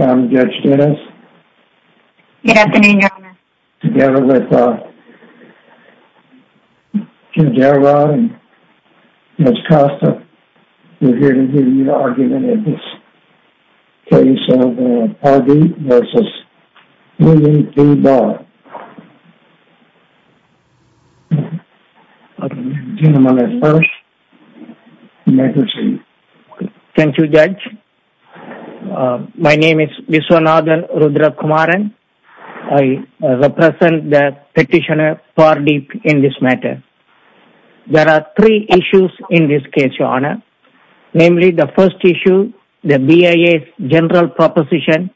I'm Judge Dennis. Good afternoon, Your Honor. Together with Jim Darabont and Ms. Costa, we're here to hear your argument in this case of R. Deep v. William B. Barr. My name is Viswanathan Rudrakumaran. I represent the petitioner R. Deep in this matter. There are three issues in this case, Your Honor. Namely, the first issue, the BIA's general proposition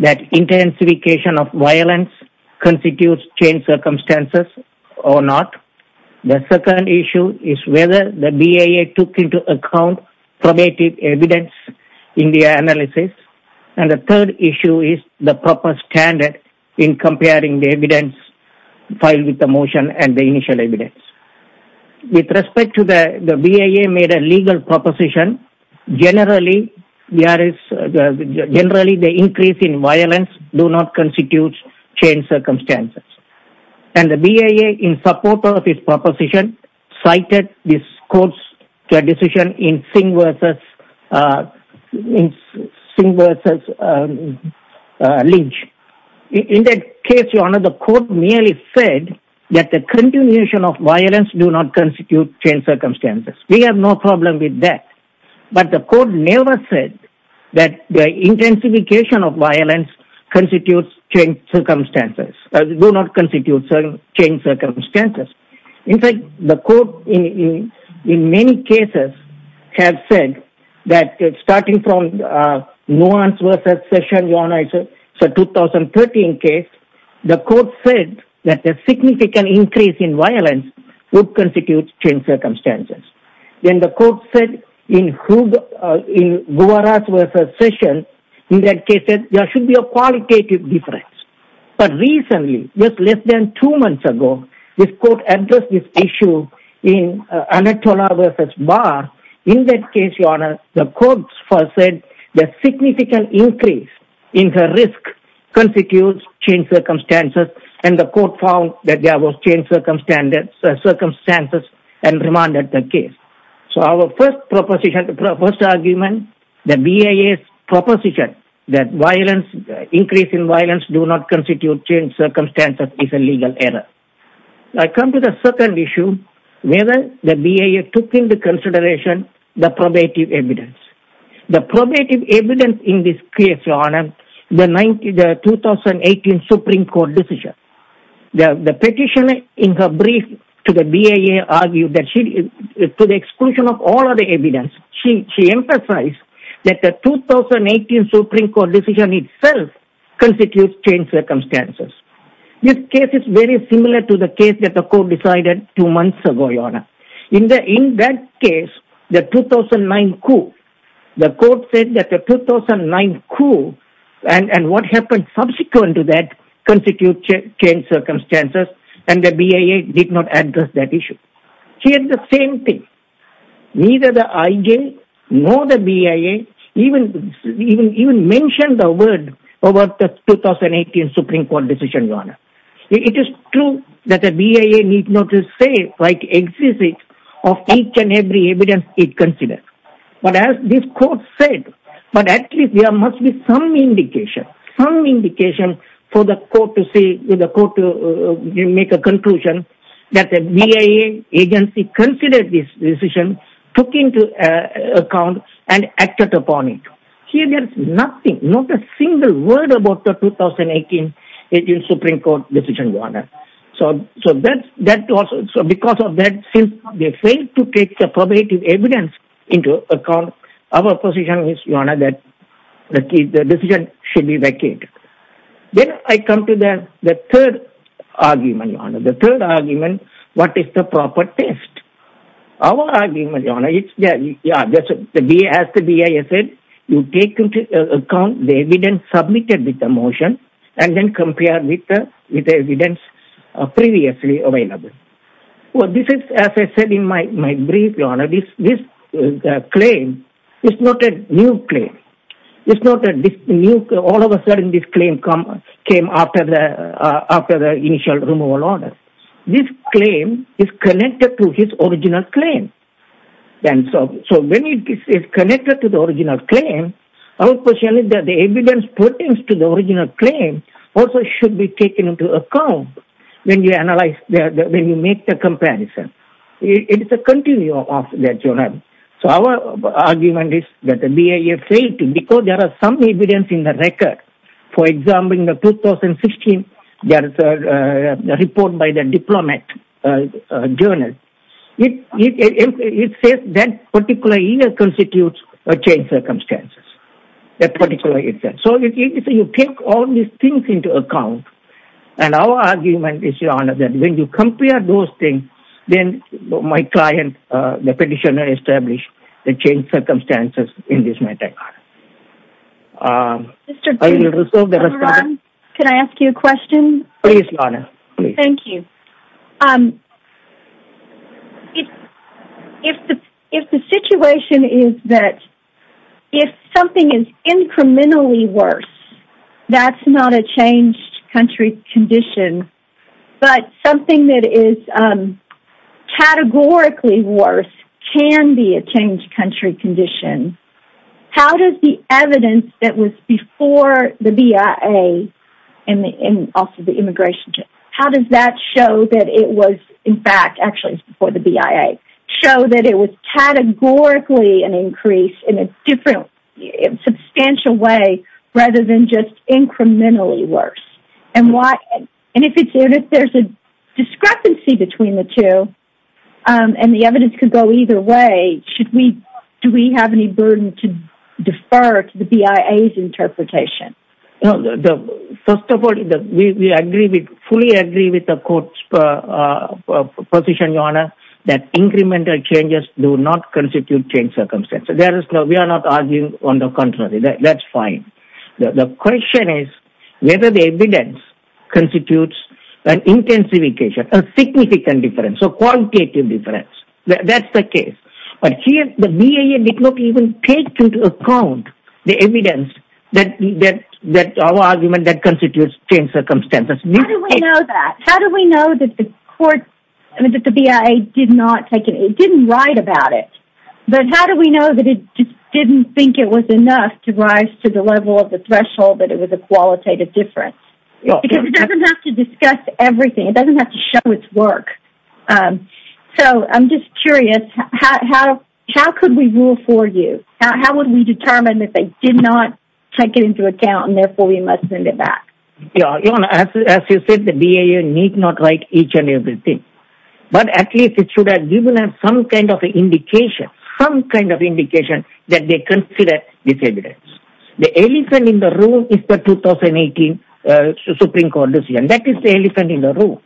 that intensification of violence constitutes changed circumstances or not. The second issue is whether the BIA took into account probative evidence in the analysis. And the third issue is the proper standard in comparing the evidence filed with the motion and the initial evidence. With respect to the BIA made a legal proposition, generally, the increase in violence do not constitute changed circumstances. And the BIA, in support of its proposition, cited this court's decision in Singh v. Lynch. In that case, Your Honor, the court merely said that the continuation of violence do not constitute changed circumstances. We have no problem with that. But the court never said that the intensification of violence constitutes changed circumstances. In fact, the court in many cases has said that starting from Nuance v. Session, Your Honor, in the 2013 case, the court said that a significant increase in violence would constitute changed circumstances. Then the court said in Guwara's v. Session, in that case, there should be a qualitative difference. But recently, just less than two months ago, this court addressed this issue in Anatola v. Barr. In that case, Your Honor, the court said that a significant increase in the risk constitutes changed circumstances. And the court found that there was changed circumstances and remanded the case. So our first proposition, the first argument, the BIA's proposition that violence, increase in violence do not constitute changed circumstances is a legal error. I come to the second issue, whether the BIA took into consideration the probative evidence. The probative evidence in this case, Your Honor, the 2018 Supreme Court decision. The petitioner in her brief to the BIA argued that she, to the exclusion of all other evidence, she emphasized that the 2018 Supreme Court decision itself constitutes changed circumstances. This case is very similar to the case that the court decided two months ago, Your Honor. In that case, the 2009 coup, the court said that the 2009 coup and what happened subsequent to that constitutes changed circumstances, and the BIA did not address that issue. She had the same thing. Neither the IG nor the BIA even mentioned the word about the 2018 Supreme Court decision, Your Honor. It is true that the BIA need not say why it exists of each and every evidence it considers. But as this court said, but actually there must be some indication, some indication for the court to see, for the court to make a conclusion that the BIA agency considered this decision, took into account, and acted upon it. Here there is nothing, not a single word about the 2018 Supreme Court decision, Your Honor. So because of that, since they failed to take the probative evidence into account, our position is, Your Honor, that the decision should be vacated. Then I come to the third argument, Your Honor. The third argument, what is the proper test? Our argument, Your Honor, as the BIA said, you take into account the evidence submitted with the motion, and then compare with the evidence previously available. This is, as I said in my brief, Your Honor, this claim is not a new claim. It's not a new, all of a sudden this claim came after the initial removal order. This claim is connected to his original claim. So when it is connected to the original claim, our position is that the evidence pertains to the original claim also should be taken into account when you analyze, when you make the comparison. It is a continuum of that, Your Honor. So our argument is that the BIA failed to, because there is some evidence in the record. For example, in 2016, there is a report by the Diplomat Journal. It says that particular year constitutes a change of circumstances. That particular instance. So you take all these things into account, and our argument is, Your Honor, that when you compare those things, then my client, the petitioner, established the change of circumstances in this matter, Your Honor. Mr. Green, can I ask you a question? Please, Your Honor. Thank you. If the situation is that if something is incrementally worse, that's not a changed country condition. But something that is categorically worse can be a changed country condition. How does the evidence that was before the BIA and also the immigration check, how does that show that it was, in fact, actually before the BIA, show that it was categorically an increase in a different, substantial way rather than just incrementally worse? And if there's a discrepancy between the two, and the evidence can go either way, do we have any burden to defer to the BIA's interpretation? First of all, we fully agree with the court's position, Your Honor, that incremental changes do not constitute changed circumstances. We are not arguing on the contrary. That's fine. The question is whether the evidence constitutes an intensification, a significant difference, a quantitative difference. That's the case. But here, the BIA did not even take into account the evidence that our argument that constitutes changed circumstances. How do we know that? How do we know that the BIA did not write about it? But how do we know that it didn't think it was enough to rise to the level of the threshold that it was a qualitative difference? Because it doesn't have to discuss everything. It doesn't have to show its work. So, I'm just curious. How could we rule for you? How would we determine that they did not take it into account and, therefore, we must send it back? Your Honor, as you said, the BIA need not write each and every thing. But at least it should have given us some kind of indication, some kind of indication that they consider this evidence. The elephant in the room is the 2018 Supreme Court decision. That is the elephant in the room.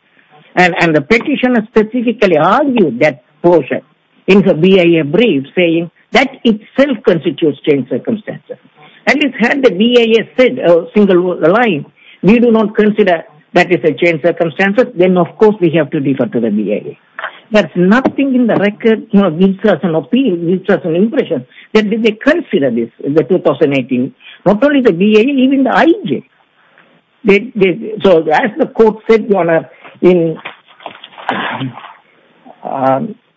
And the petitioner specifically argued that portion in the BIA brief saying that itself constitutes changed circumstances. At least had the BIA said a single line, we do not consider that is a changed circumstance. Then, of course, we have to defer to the BIA. There's nothing in the record that gives us an impression that they consider this, the 2018. Not only the BIA, even the IJ. So, as the court said, Your Honor, in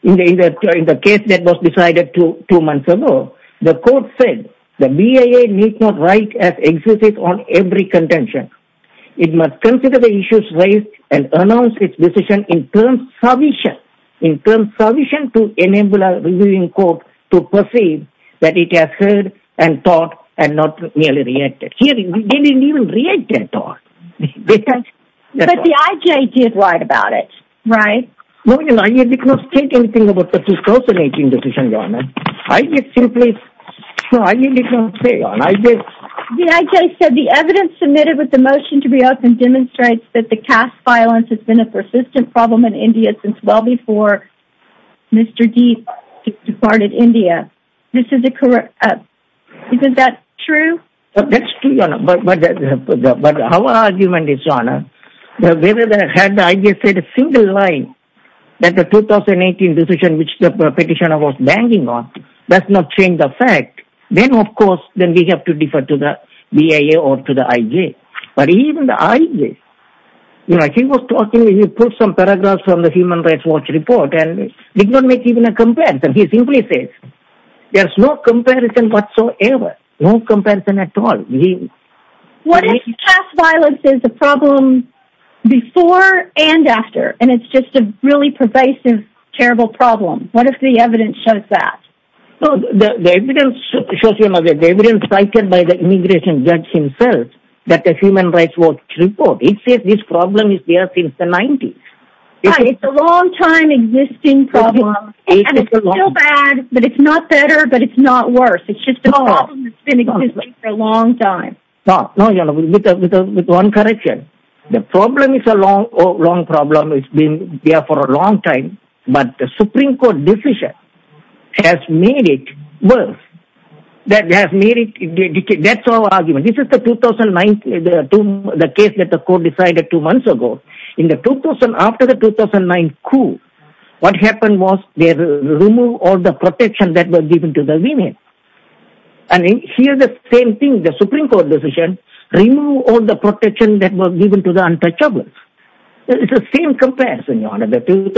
the case that was decided two months ago, the court said the BIA need not write as existed on every contention. It must consider the issues raised and announce its decision in terms of submission, in terms of submission to enable a reviewing court to perceive that it has heard and thought and not merely reacted. But the IJ did write about it, right? No, Your Honor, I did not state anything about the 2018 decision, Your Honor. I just simply, I did not say, Your Honor. The IJ said the evidence submitted with the motion to reopen demonstrates that the caste violence has been a persistent problem in India since well before Mr. Deep departed India. This is a correct, isn't that true? That's true, Your Honor, but our argument is, Your Honor, whether they had the IJ state a single line that the 2018 decision which the petitioner was banging on does not change the fact, then, of course, then we have to defer to the BIA or to the IJ. But even the IJ, you know, he was talking, he put some paragraphs from the Human Rights Watch report and did not make even a comparison. He simply says there's no comparison whatsoever, no comparison at all. What if caste violence is a problem before and after and it's just a really pervasive, terrible problem? What if the evidence shows that? The evidence shows, Your Honor, the evidence cited by the immigration judge himself that the Human Rights Watch report, it says this problem is there since the 90s. It's a long time existing problem and it's still bad, but it's not better, but it's not worse. It's just a problem that's been existing for a long time. No, Your Honor, with one correction. The problem is a long problem. It's been there for a long time, but the Supreme Court decision has made it worse. That has made it, that's our argument. This is the 2009, the case that the court decided two months ago. In the 2000, after the 2009 coup, what happened was they removed all the protection that was given to the women. And here the same thing, the Supreme Court decision, removed all the protection that was given to the untouchables. It's the same comparison, Your Honor, the 2000,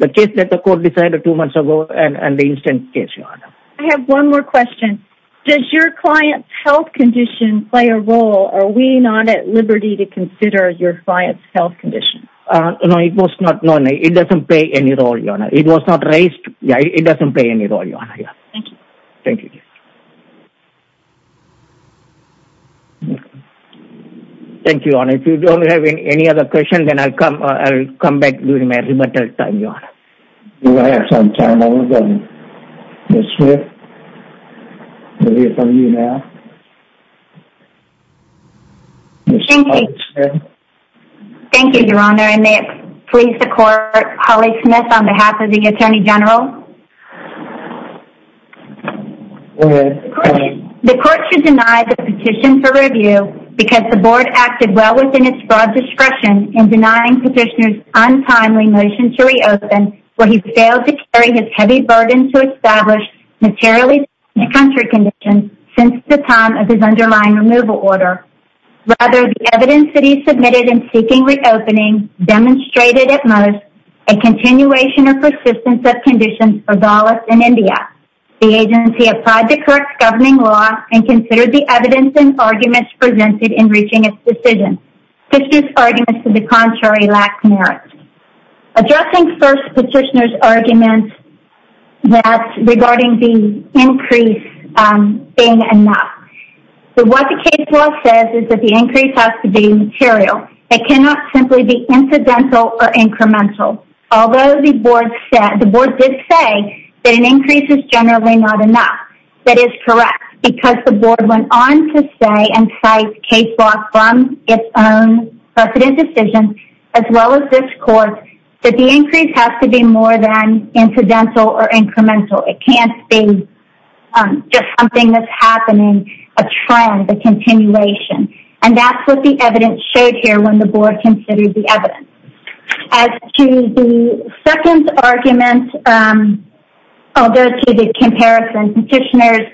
the case that the court decided two months ago and the instant case, Your Honor. I have one more question. Does your client's health condition play a role? Are we not at liberty to consider your client's health condition? No, it doesn't play any role, Your Honor. It was not raised. It doesn't play any role, Your Honor. Thank you. Thank you. Thank you, Your Honor. If you don't have any other questions, then I'll come back during my rebuttal time, Your Honor. We're going to have some time. I want to go to Ms. Smith. We'll hear from you now. Ms. Holly Smith. Thank you. Thank you, Your Honor. And may it please the court, Holly Smith on behalf of the Attorney General. Go ahead. The court should deny the petition for review because the board acted well within its broad discretion in denying Petitioner's untimely motion to reopen where he failed to carry his heavy burden to establish materially significant country conditions since the time of his underlying removal order. Rather, the evidence that he submitted in seeking reopening demonstrated at most a continuation or persistence of conditions for Dallas and India. The agency applied the correct governing law and considered the evidence and arguments presented in reaching its decision. Petitioner's arguments to the contrary lacked merit. Addressing first Petitioner's argument regarding the increase being enough. What the case law says is that the increase has to be material. It cannot simply be incidental or incremental. Although the board did say that an increase is generally not enough, that is correct because the board went on to say and cite case law from its own precedent decision, as well as this court, that the increase has to be more than incidental or incremental. It can't be just something that's happening, a trend, a continuation. And that's what the evidence showed here when the board considered the evidence. As to the second argument, although to the comparison, Petitioner's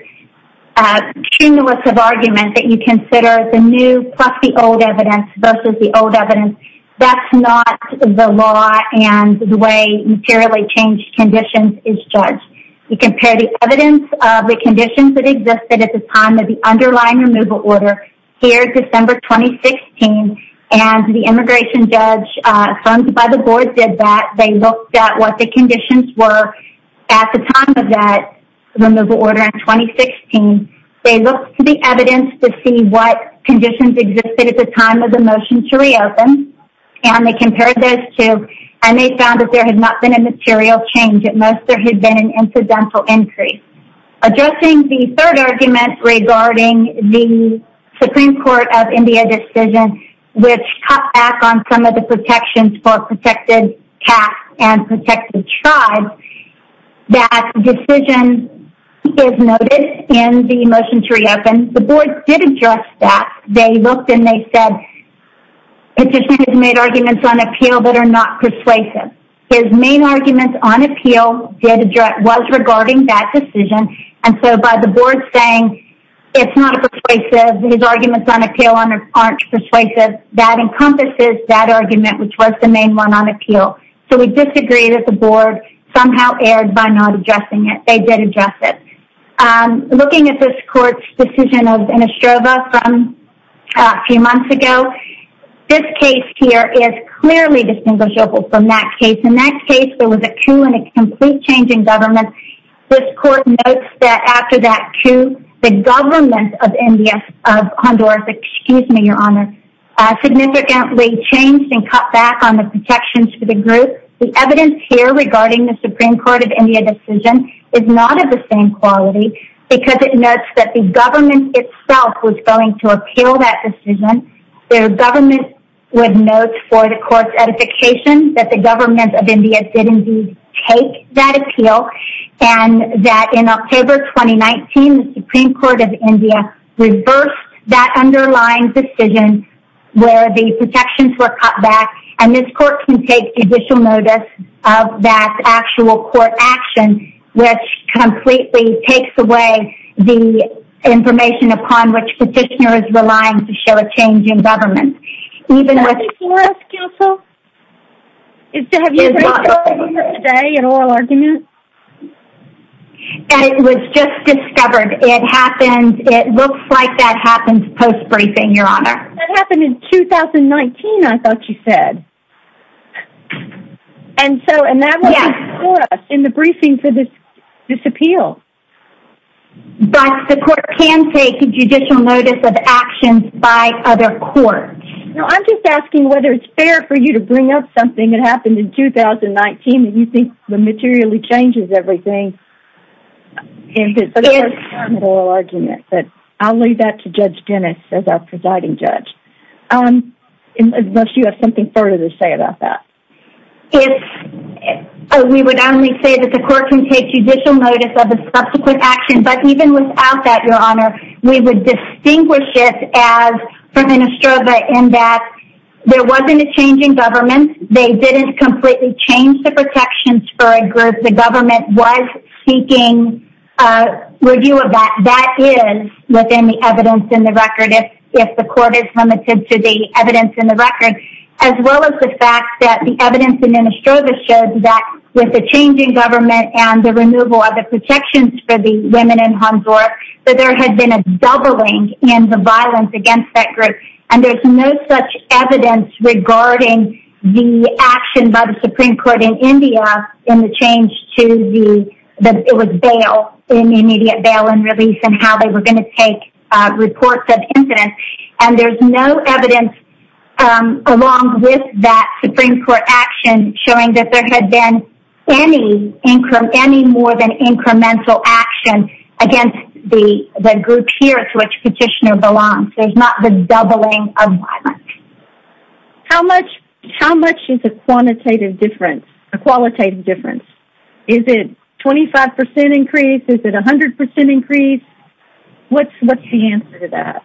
cumulative argument that you consider the new plus the old evidence versus the old evidence, that's not the law and the way materially changed conditions is judged. You compare the evidence of the conditions that existed at the time of the underlying removal order here, December 2016, and the immigration judge funded by the board did that. They looked at what the conditions were at the time of that removal order in 2016. They looked to the evidence to see what conditions existed at the time of the motion to reopen, and they compared those two, and they found that there had not been a material change. At most, there had been an incidental increase. Addressing the third argument regarding the Supreme Court of India decision, which cut back on some of the protections for protected caste and protected tribes, that decision is noted in the motion to reopen. The board did address that. They looked and they said Petitioner's made arguments on appeal that are not persuasive. His main argument on appeal was regarding that decision, and so by the board saying it's not persuasive, his arguments on appeal aren't persuasive, that encompasses that argument, which was the main one on appeal. So we disagree that the board somehow erred by not addressing it. They did address it. Looking at this court's decision of Anastrova from a few months ago, this case here is clearly distinguishable from that case. In that case, there was a coup and a complete change in government. This court notes that after that coup, the government of India, of Honduras, excuse me, Your Honor, significantly changed and cut back on the protections for the group. The evidence here regarding the Supreme Court of India decision is not of the same quality because it notes that the government itself was going to appeal that decision The government would note for the court's edification that the government of India did indeed take that appeal and that in October 2019, the Supreme Court of India reversed that underlying decision where the protections were cut back and this court can take judicial notice of that actual court action which completely takes away the information upon which the petitioner is relying to show a change in government. Is that before us, counsel? Have you heard that argument today, an oral argument? It was just discovered. It happens, it looks like that happens post-briefing, Your Honor. That happened in 2019, I thought you said. And that was before us in the briefing for this appeal. But the court can take judicial notice of actions by other courts. I'm just asking whether it's fair for you to bring up something that happened in 2019 that you think materially changes everything in this oral argument. I'll leave that to Judge Dennis as our presiding judge. Unless you have something further to say about that. We would only say that the court can take judicial notice of the subsequent action but even without that, Your Honor, we would distinguish it as president Estrada in that there wasn't a change in government. They didn't completely change the protections for a group. The government was seeking review of that. That is within the evidence in the record. If the court is limited to the evidence in the record. As well as the fact that the evidence in Estrada shows that with the change in government and the removal of the protections for the women in Hanzor that there had been a doubling in the violence against that group. And there's no such evidence regarding the action by the Supreme Court in India in the change to the bail, in the immediate bail and release and how they were going to take reports of incidents. And there's no evidence along with that Supreme Court action showing that there had been any more than incremental action against the group here to which Petitioner belongs. There's not been doubling of violence. How much is a quantitative difference, a qualitative difference? Is it 25% increase? Is it 100% increase? What's the answer to that?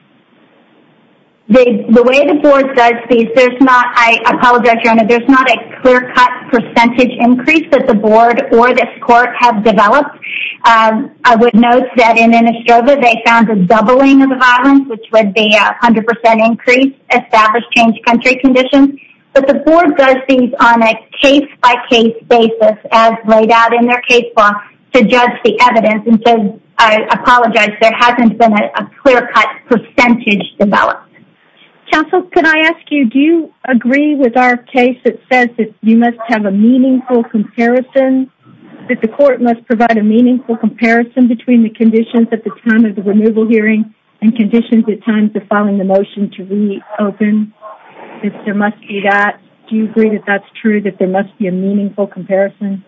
The way the board does these, there's not, I apologize, Your Honor, there's not a clear-cut percentage increase that the board or this court have developed. I would note that in Innistrava they found a doubling of the violence which would be a 100% increase established change country conditions. But the board does these on a case-by-case basis as laid out in their case law to judge the evidence. And so, I apologize, there hasn't been a clear-cut percentage developed. Counsel, could I ask you, do you agree with our case that says that you must have a meaningful comparison, that the court must provide a meaningful comparison between the conditions at the time of the removal hearing and conditions at times of filing the motion to reopen? If there must be that, do you agree that that's true, that there must be a meaningful comparison?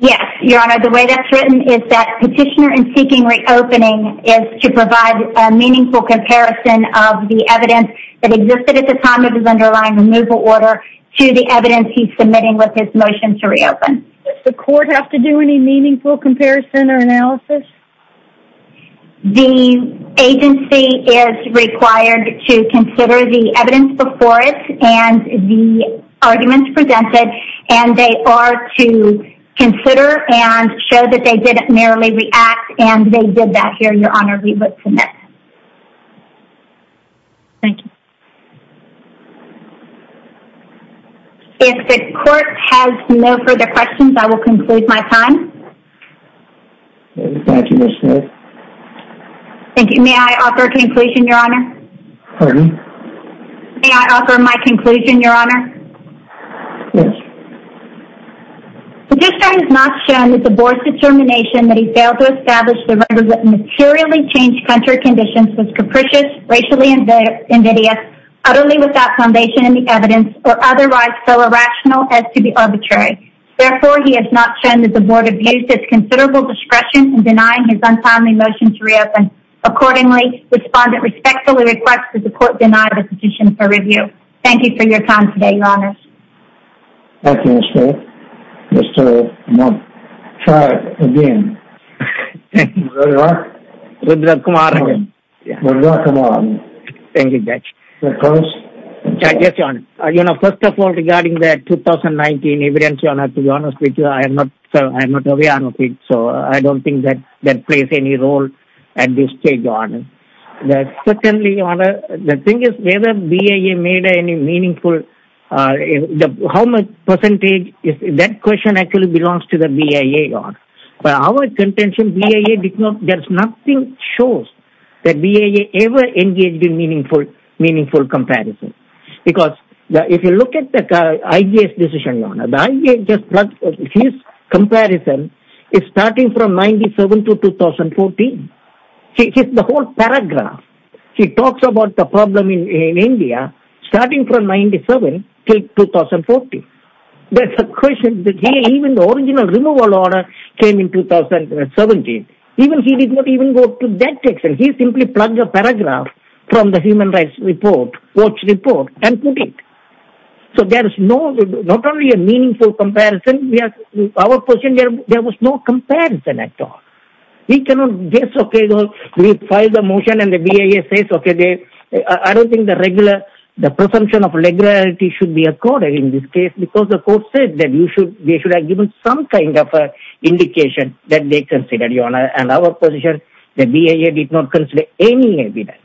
Yes, Your Honor. The way that's written is that Petitioner in seeking reopening is to provide a meaningful comparison of the evidence that existed at the time of his underlying removal order to the evidence he's submitting with his motion to reopen. Does the court have to do any meaningful comparison or analysis? The agency is required to consider the evidence before it and the arguments presented, and they are to consider and show that they didn't merely react and they did that here, Your Honor, we would submit. Thank you. If the court has no further questions, I will conclude my time. Thank you, Ms. Smith. Thank you. May I offer a conclusion, Your Honor? Pardon? May I offer my conclusion, Your Honor? Yes. Petitioner has not shown his divorce determination that he failed to establish the materially changed country conditions was capricious, racially invidious, utterly without foundation in the evidence, or otherwise so irrational as to be arbitrary. Therefore, he has not shown that the board abused its considerable discretion in denying his untimely motion to reopen. Accordingly, the respondent respectfully requests that the court deny the petition for review. Thank you for your time today, Your Honor. Thank you, Ms. Smith. Ms. Smith, I'm tired again. Thank you very much. Good luck tomorrow. Good luck tomorrow. Thank you, Judge. Judge? Yes, Your Honor. You know, first of all, regarding the 2019 evidence, Your Honor, to be honest with you, I am not aware of it, so I don't think that plays any role at this stage, Your Honor. Secondly, Your Honor, the thing is whether BIA made any meaningful how much percentage that question actually belongs to the BIA, Your Honor. By our contention, BIA did not There's nothing that shows that BIA ever engaged in meaningful comparison. Because if you look at the IJS decision, Your Honor, the IJS, his comparison is starting from 1997 to 2014. The whole paragraph, he talks about the problem in India, starting from 1997 till 2014. There's a question that even the original removal order came in 2017. Even he did not even go to that section. He simply plugged the paragraph from the Human Rights Report, Watch Report, and put it. So there's not only a meaningful comparison. Our position, there was no comparison at all. We cannot guess, okay, we filed a motion and the BIA says, okay, I don't think the presumption of legality should be accorded in this case because the court said that they should have given some kind of indication that they considered, Your Honor. And our position, the BIA did not consider any evidence.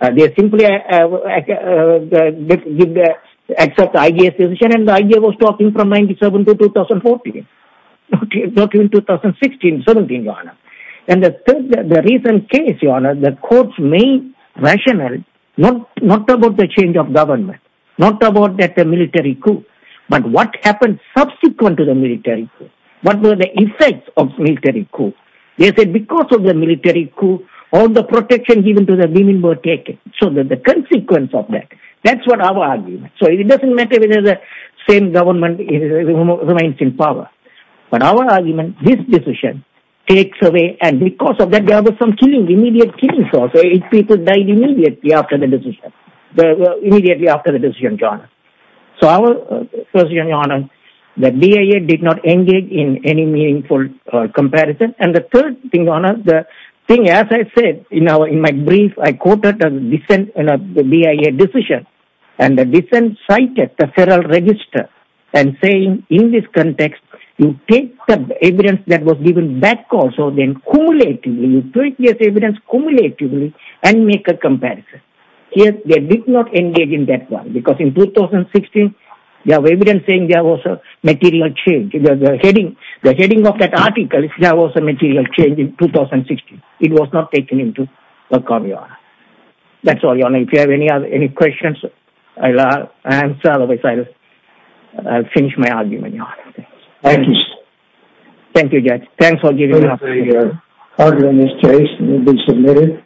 They simply accepted the IJS decision and the IJS was talking from 1997 to 2014. Not even 2016, 2017, Your Honor. And the recent case, Your Honor, the courts made rational, not about the change of government, not about that military coup, but what happened subsequent to the military coup. What were the effects of military coup? They said because of the military coup, all the protection given to the women were taken. So the consequence of that, that's what our argument. So it doesn't matter whether the same government remains in power. But our argument, this decision takes away, and because of that, there was some killing, immediate killing. So eight people died immediately after the decision, immediately after the decision, Your Honor. So our position, Your Honor, the BIA did not engage in any meaningful comparison. And the third thing, Your Honor, the thing, as I said, in my brief, I quoted the BIA decision and the dissent cited the Federal Register and saying in this context, you take the evidence that was given back also, then cumulatively, you take this evidence cumulatively and make a comparison. Yes, they did not engage in that one because in 2016, they have evidence saying there was a material change. The heading of that article, there was a material change in 2016. It was not taken into account, Your Honor. That's all, Your Honor. If you have any questions, I'll answer. Otherwise, I'll finish my argument, Your Honor. Thank you, sir. Thank you, Judge. Thanks for giving me an opportunity. Order in this case will be submitted.